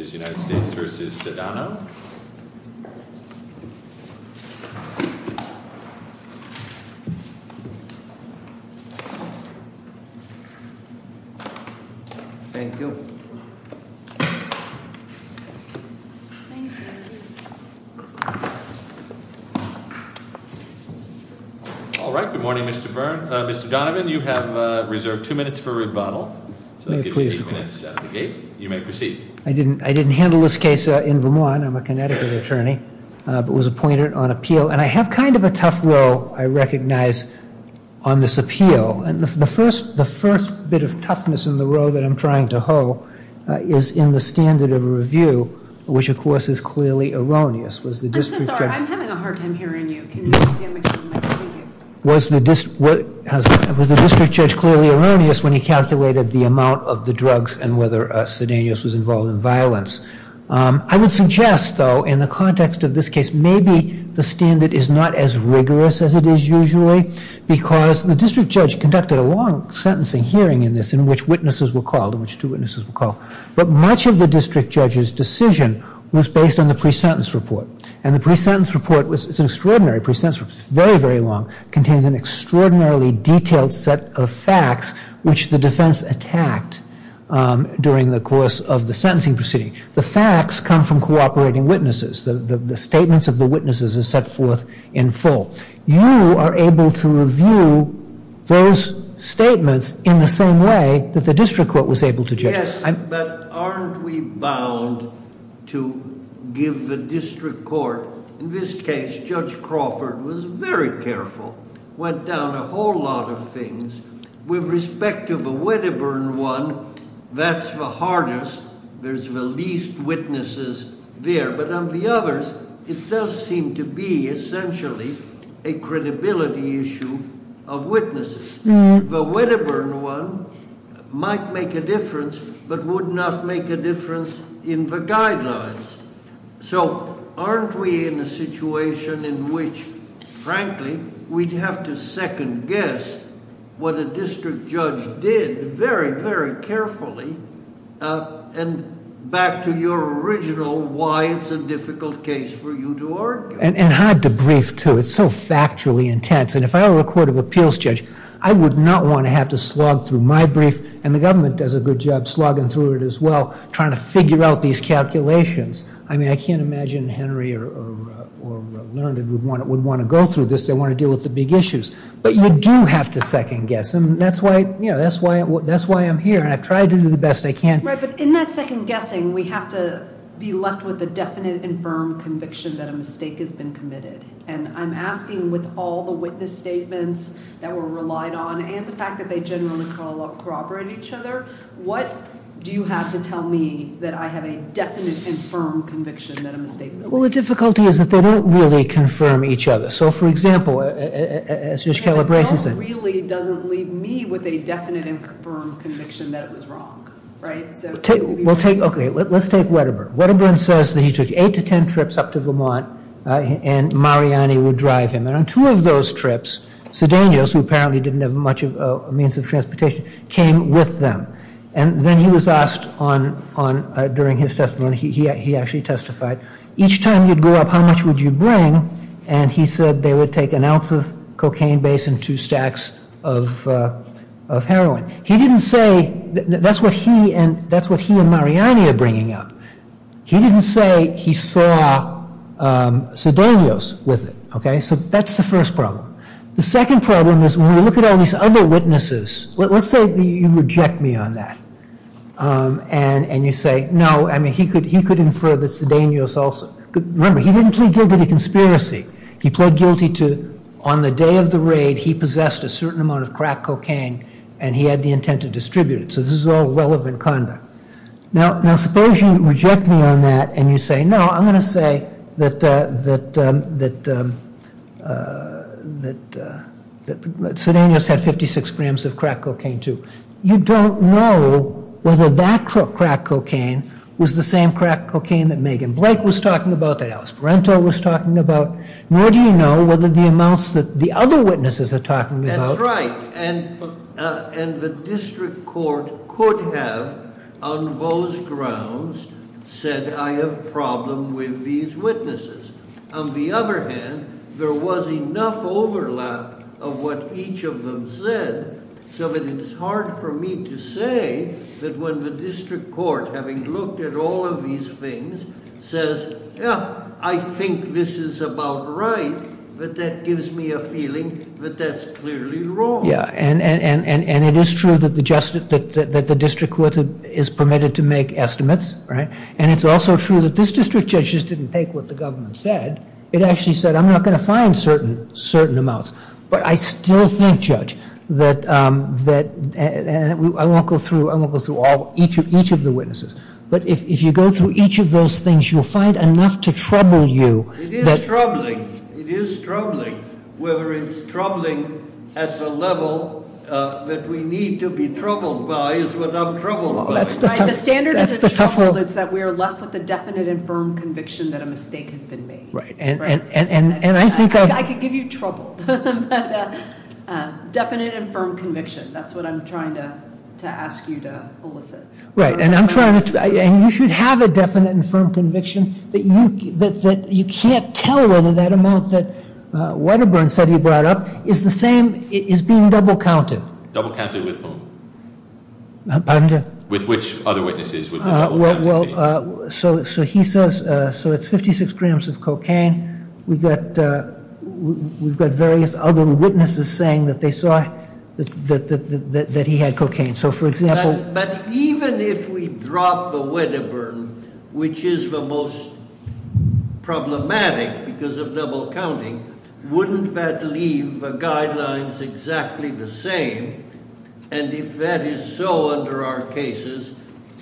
v. United States v. Sedano. Thank you. All right, good morning Mr. Donovan. You have reserved two minutes for rebuttal. I'll give you three minutes at the gate. You may proceed. I'm so sorry, I'm having a hard time hearing you. Can you make sure I can hear you? All right. Yes, but aren't we bound to give the district court, in this case Judge Crawford was very careful, went down a whole lot of things. With respect to the Wedderburn one, that's the hardest. There's the least witnesses there. But on the others, it does seem to be essentially a credibility issue of witnesses. The Wedderburn one might make a difference, but would not make a difference in the guidelines. So aren't we in a situation in which, frankly, we'd have to second guess what a district judge did very, very carefully? And back to your original why it's a difficult case for you to argue. And hard to brief too. It's so factually intense. And if I were a court of appeals judge, I would not want to have to slog through my brief, and the government does a good job slogging through it as well, trying to figure out these calculations. I mean, I can't imagine Henry or Leonard would want to go through this. They want to deal with the big issues. But you do have to second guess, and that's why I'm here, and I've tried to do the best I can. Right, but in that second guessing, we have to be left with a definite and firm conviction that a mistake has been committed. And I'm asking with all the witness statements that were relied on, and the fact that they generally corroborate each other, what do you have to tell me that I have a definite and firm conviction that a mistake was made? Well, the difficulty is that they don't really confirm each other. So, for example, as Judge Calabresi said- And that really doesn't leave me with a definite and firm conviction that it was wrong, right? Okay, let's take Wedderburn. Wedderburn says that he took eight to ten trips up to Vermont, and Mariani would drive him. And on two of those trips, Sedanios, who apparently didn't have much of a means of transportation, came with them. And then he was asked during his testimony, he actually testified, each time you'd go up, how much would you bring? And he said they would take an ounce of cocaine base and two stacks of heroin. He didn't say- that's what he and Mariani are bringing up. He didn't say he saw Sedanios with it. Okay, so that's the first problem. The second problem is when you look at all these other witnesses, let's say you reject me on that. And you say, no, I mean, he could infer that Sedanios also- Remember, he didn't plead guilty to conspiracy. He pled guilty to, on the day of the raid, he possessed a certain amount of crack cocaine, and he had the intent to distribute it. So this is all relevant conduct. Now, suppose you reject me on that, and you say, no, I'm going to say that Sedanios had 56 grams of crack cocaine too. You don't know whether that crack cocaine was the same crack cocaine that Megan Blake was talking about, that Alice Parenteau was talking about. Nor do you know whether the amounts that the other witnesses are talking about- and the district court could have, on those grounds, said I have a problem with these witnesses. On the other hand, there was enough overlap of what each of them said, so that it's hard for me to say that when the district court, having looked at all of these things, says, yeah, I think this is about right, but that gives me a feeling that that's clearly wrong. Yeah, and it is true that the district court is permitted to make estimates, right? And it's also true that this district judge just didn't take what the government said. It actually said, I'm not going to find certain amounts. But I still think, Judge, that I won't go through each of the witnesses, but if you go through each of those things, you'll find enough to trouble you that- The trouble that we need to be troubled by is what I'm troubled by. The standard isn't trouble, it's that we're left with a definite and firm conviction that a mistake has been made. Right, and I think- I could give you trouble, but definite and firm conviction, that's what I'm trying to ask you to elicit. Right, and you should have a definite and firm conviction that you can't tell whether that amount that is being double-counted. Double-counted with whom? With which other witnesses? So he says, so it's 56 grams of cocaine. We've got various other witnesses saying that they saw that he had cocaine. So, for example- But even if we drop the Wedderburn, which is the most problematic because of double-counting, wouldn't that leave the guidelines exactly the same? And if that is so under our cases,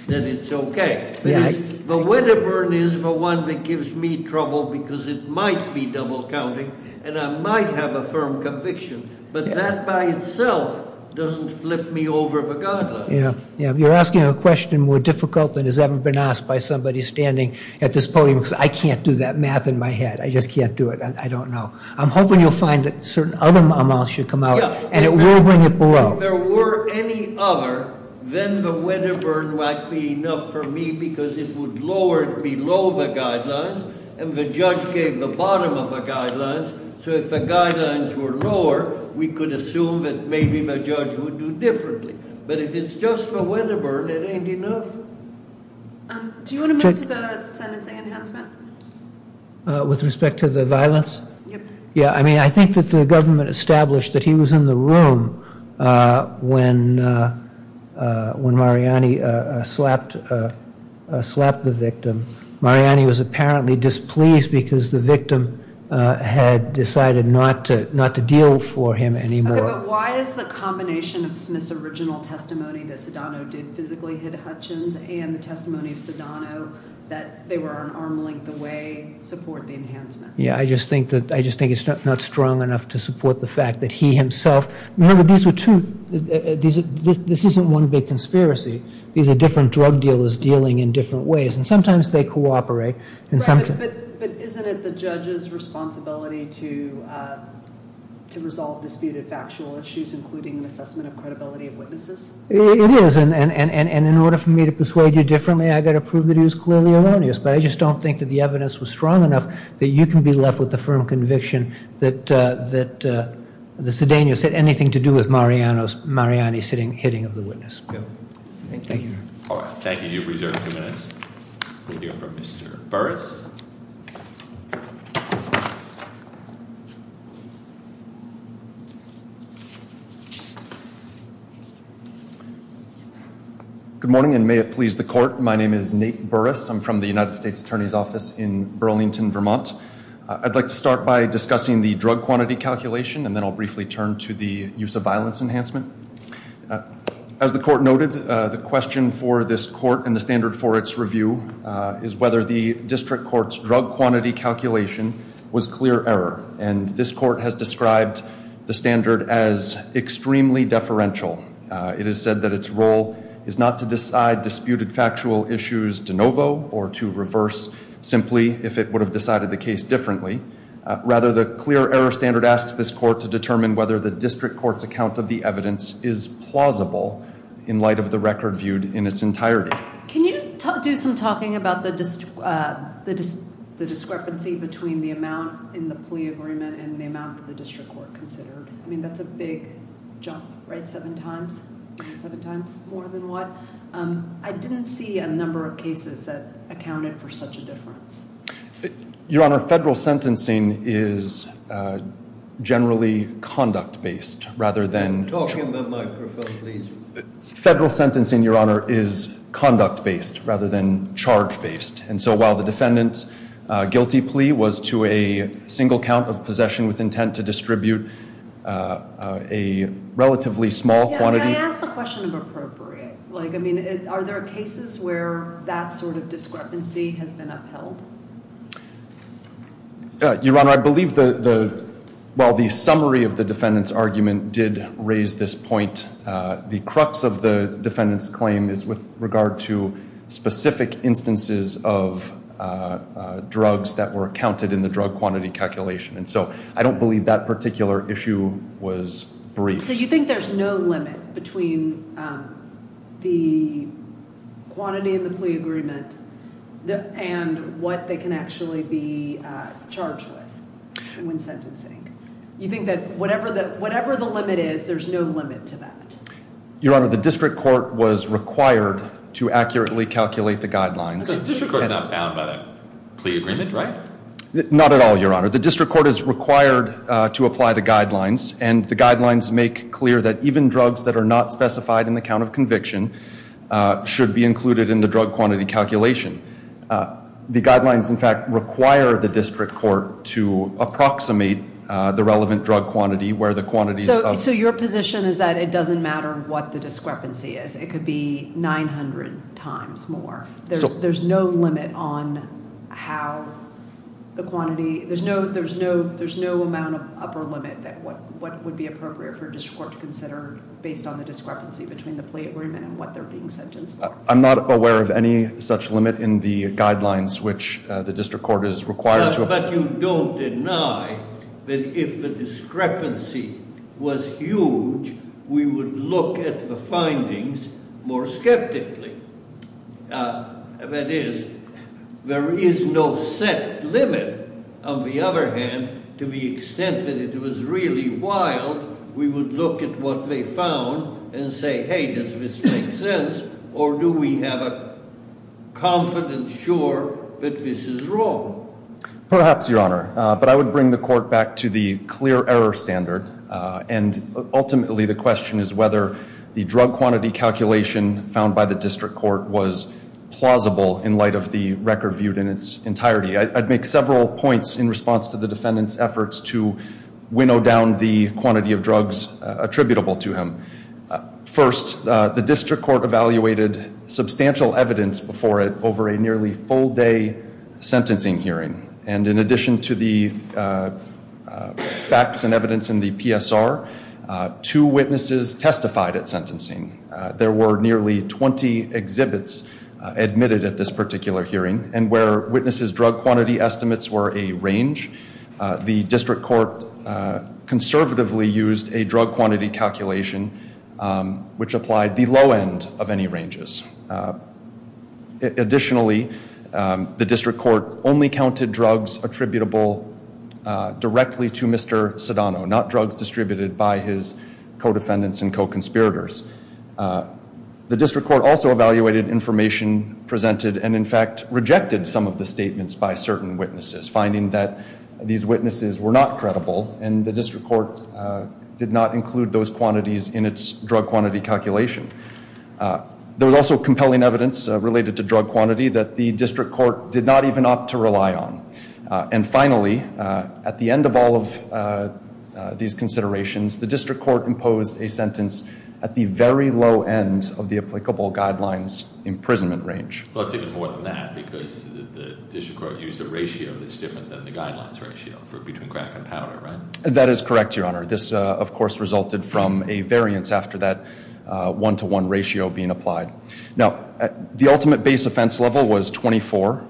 then it's okay. The Wedderburn is the one that gives me trouble because it might be double-counting, and I might have a firm conviction, but that by itself doesn't flip me over the guidelines. You're asking a question more difficult than has ever been asked by somebody standing at this podium, because I can't do that math in my head. I just can't do it. I don't know. I'm hoping you'll find that certain other amounts should come out, and it will bring it below. If there were any other, then the Wedderburn might be enough for me because it would lower it below the guidelines, and the judge gave the bottom of the guidelines. So if the guidelines were lower, we could assume that maybe the judge would do differently. But if it's just the Wedderburn, it ain't enough. Do you want to move to the sentencing enhancement? With respect to the violence? Yeah. I mean, I think that the government established that he was in the room when Mariani slapped the victim. Mariani was apparently displeased because the victim had decided not to deal for him anymore. Okay, but why is the combination of Smith's original testimony that Sedano did physically hit Hutchins and the testimony of Sedano that they were an arm's length away support the enhancement? Yeah, I just think it's not strong enough to support the fact that he himself. Remember, these were two. This isn't one big conspiracy. These are different drug dealers dealing in different ways, and sometimes they cooperate. But isn't it the judge's responsibility to resolve disputed factual issues, including an assessment of credibility of witnesses? It is, and in order for me to persuade you differently, I've got to prove that he was clearly erroneous. But I just don't think that the evidence was strong enough that you can be left with the firm conviction that the Sedanos had anything to do with Mariani hitting of the witness. Thank you. All right, thank you. You have reserved a few minutes. We'll hear from Mr. Burris. Good morning, and may it please the court. My name is Nate Burris. I'm from the United States Attorney's Office in Burlington, Vermont. I'd like to start by discussing the drug quantity calculation, and then I'll briefly turn to the use of violence enhancement. As the court noted, the question for this court and the standard for its review is whether the district court's drug quantity calculation was clear error, and this court has described the standard as extremely deferential. It has said that its role is not to decide disputed factual issues de novo or to reverse simply if it would have decided the case differently. Rather, the clear error standard asks this court to determine whether the district court's account of the evidence is plausible in light of the record viewed in its entirety. Can you do some talking about the discrepancy between the amount in the plea agreement and the amount that the district court considered? I mean, that's a big jump, right? Seven times? Seven times more than what? I didn't see a number of cases that accounted for such a difference. Your Honor, federal sentencing is generally conduct-based rather than charge-based. Talk into that microphone, please. Federal sentencing, Your Honor, is conduct-based rather than charge-based, and so while the defendant's guilty plea was to a single count of possession with intent to distribute a relatively small quantity. May I ask the question of appropriate? I mean, are there cases where that sort of discrepancy has been upheld? Your Honor, I believe the summary of the defendant's argument did raise this point. The crux of the defendant's claim is with regard to specific instances of drugs that were accounted in the drug quantity calculation. And so I don't believe that particular issue was brief. So you think there's no limit between the quantity in the plea agreement and what they can actually be charged with when sentencing? You think that whatever the limit is, there's no limit to that? Your Honor, the district court was required to accurately calculate the guidelines. The district court's not bound by the plea agreement, right? Not at all, Your Honor. The district court is required to apply the guidelines, and the guidelines make clear that even drugs that are not specified in the count of conviction should be included in the drug quantity calculation. The guidelines, in fact, require the district court to approximate the relevant drug quantity where the quantities of- So your position is that it doesn't matter what the discrepancy is. It could be 900 times more. There's no limit on how the quantity- There's no amount of upper limit that would be appropriate for a district court to consider based on the discrepancy between the plea agreement and what they're being sentenced for. I'm not aware of any such limit in the guidelines which the district court is required to- But you don't deny that if the discrepancy was huge, we would look at the findings more skeptically. That is, there is no set limit. On the other hand, to the extent that it was really wild, we would look at what they found and say, hey, does this make sense, or do we have a confidence sure that this is wrong? Perhaps, Your Honor, but I would bring the court back to the clear error standard, and ultimately the question is whether the drug quantity calculation found by the district court was plausible in light of the record viewed in its entirety. I'd make several points in response to the defendant's efforts to winnow down the quantity of drugs attributable to him. First, the district court evaluated substantial evidence before it over a nearly full-day sentencing hearing, and in addition to the facts and evidence in the PSR, two witnesses testified at sentencing. There were nearly 20 exhibits admitted at this particular hearing, and where witnesses' drug quantity estimates were a range, the district court conservatively used a drug quantity calculation which applied the low end of any ranges. Additionally, the district court only counted drugs attributable directly to Mr. Sedano, not drugs distributed by his co-defendants and co-conspirators. The district court also evaluated information presented and in fact rejected some of the statements by certain witnesses, finding that these witnesses were not credible, and the district court did not include those quantities in its drug quantity calculation. There was also compelling evidence related to drug quantity that the district court did not even opt to rely on. And finally, at the end of all of these considerations, the district court imposed a sentence at the very low end of the applicable guidelines imprisonment range. Well, it's even more than that because the district court used a ratio that's different than the guidelines ratio for between crack and powder, right? That is correct, Your Honor. This, of course, resulted from a variance after that one-to-one ratio being applied. Now, the ultimate base offense level was 24,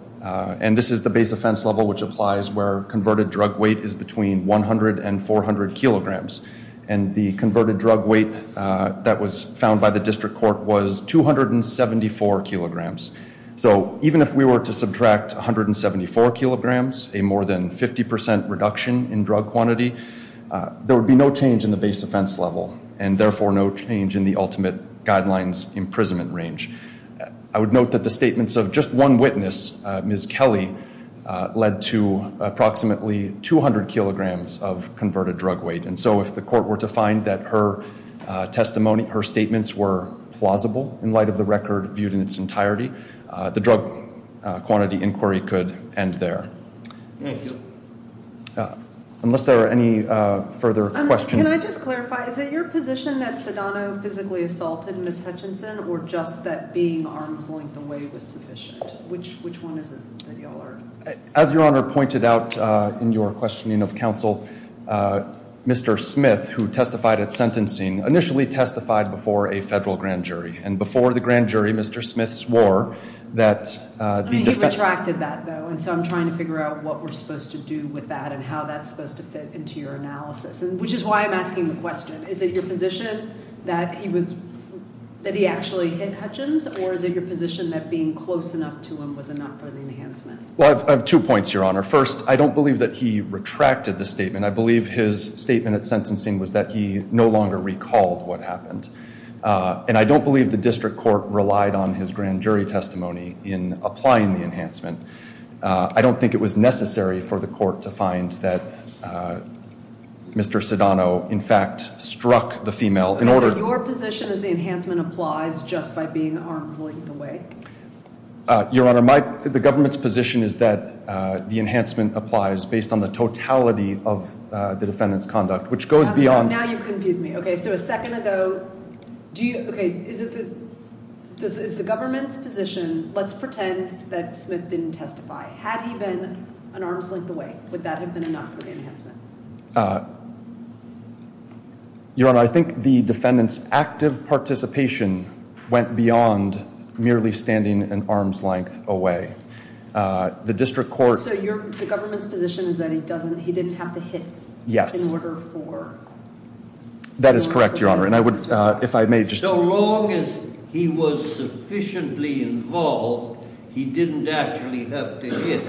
and this is the base offense level which applies where converted drug weight is between 100 and 400 kilograms, and the converted drug weight that was found by the district court was 274 kilograms. So even if we were to subtract 174 kilograms, a more than 50% reduction in drug quantity, there would be no change in the base offense level and therefore no change in the ultimate guidelines imprisonment range. I would note that the statements of just one witness, Ms. Kelly, led to approximately 200 kilograms of converted drug weight. And so if the court were to find that her testimony, her statements were plausible in light of the record viewed in its entirety, the drug quantity inquiry could end there. Thank you. Unless there are any further questions. Can I just clarify? Is it your position that Sedano physically assaulted Ms. Hutchinson or just that being arm's length away was sufficient? Which one is it that you all are? As Your Honor pointed out in your questioning of counsel, Mr. Smith, who testified at sentencing, initially testified before a federal grand jury, and before the grand jury, Mr. Smith swore that the defendant I mean, he retracted that, though, and so I'm trying to figure out what we're supposed to do with that and how that's supposed to fit into your analysis, which is why I'm asking the question. Is it your position that he actually hit Hutchins or is it your position that being close enough to him was enough for the enhancement? Well, I have two points, Your Honor. First, I don't believe that he retracted the statement. I believe his statement at sentencing was that he no longer recalled what happened. And I don't believe the district court relied on his grand jury testimony in applying the enhancement. I don't think it was necessary for the court to find that Mr. Sedano, in fact, struck the female. Is it your position that the enhancement applies just by being arm's length away? Your Honor, the government's position is that the enhancement applies based on the totality of the defendant's conduct, which goes beyond Now you confuse me. Okay, so a second ago, is the government's position, let's pretend that Smith didn't testify. Had he been an arm's length away, would that have been enough for the enhancement? Your Honor, I think the defendant's active participation went beyond merely standing an arm's length away. The district court So the government's position is that he didn't have to hit in order for That is correct, Your Honor. So long as he was sufficiently involved, he didn't actually have to hit.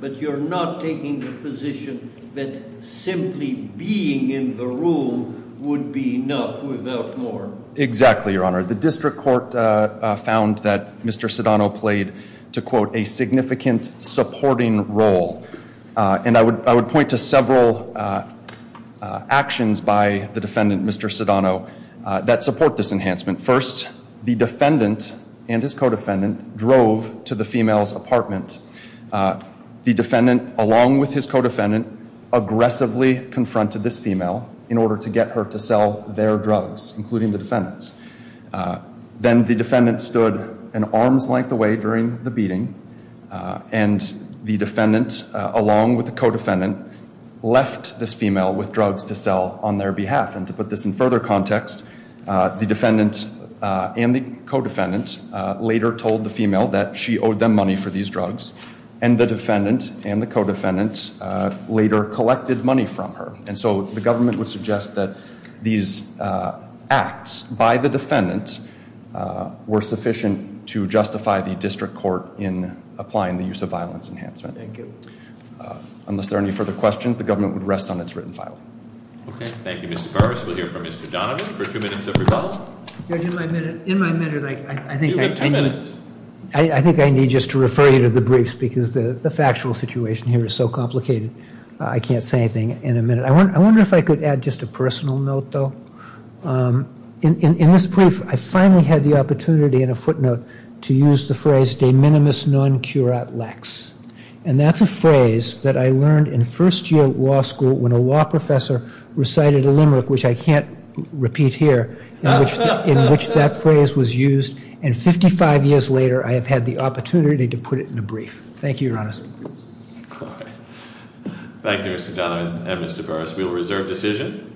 But you're not taking the position that simply being in the room would be enough without more Exactly, Your Honor. The district court found that Mr. Sedano played, to quote, a significant supporting role. And I would point to several actions by the defendant, Mr. Sedano, that support this enhancement. First, the defendant and his co-defendant drove to the female's apartment. The defendant, along with his co-defendant, aggressively confronted this female in order to get her to sell their drugs, including the defendant's. Then the defendant stood an arm's length away during the beating. And the defendant, along with the co-defendant, left this female with drugs to sell on their behalf. And to put this in further context, the defendant and the co-defendant later told the female that she owed them money for these drugs. And the defendant and the co-defendant later collected money from her. And so the government would suggest that these acts by the defendant were sufficient to justify the district court in applying the use of violence enhancement. Thank you. Unless there are any further questions, the government would rest on its written file. Thank you, Mr. Carvis. We'll hear from Mr. Donovan for two minutes of rebuttal. In my minute, I think I need just to refer you to the briefs because the factual situation here is so complicated. I can't say anything in a minute. I wonder if I could add just a personal note, though. In this brief, I finally had the opportunity in a footnote to use the phrase, de minimis non curat lex. And that's a phrase that I learned in first year law school when a law professor recited a limerick, which I can't repeat here, in which that phrase was used. And 55 years later, I have had the opportunity to put it in a brief. Thank you, Your Honor. Thank you, Mr. Donovan and Mr. Burris. We will reserve decision.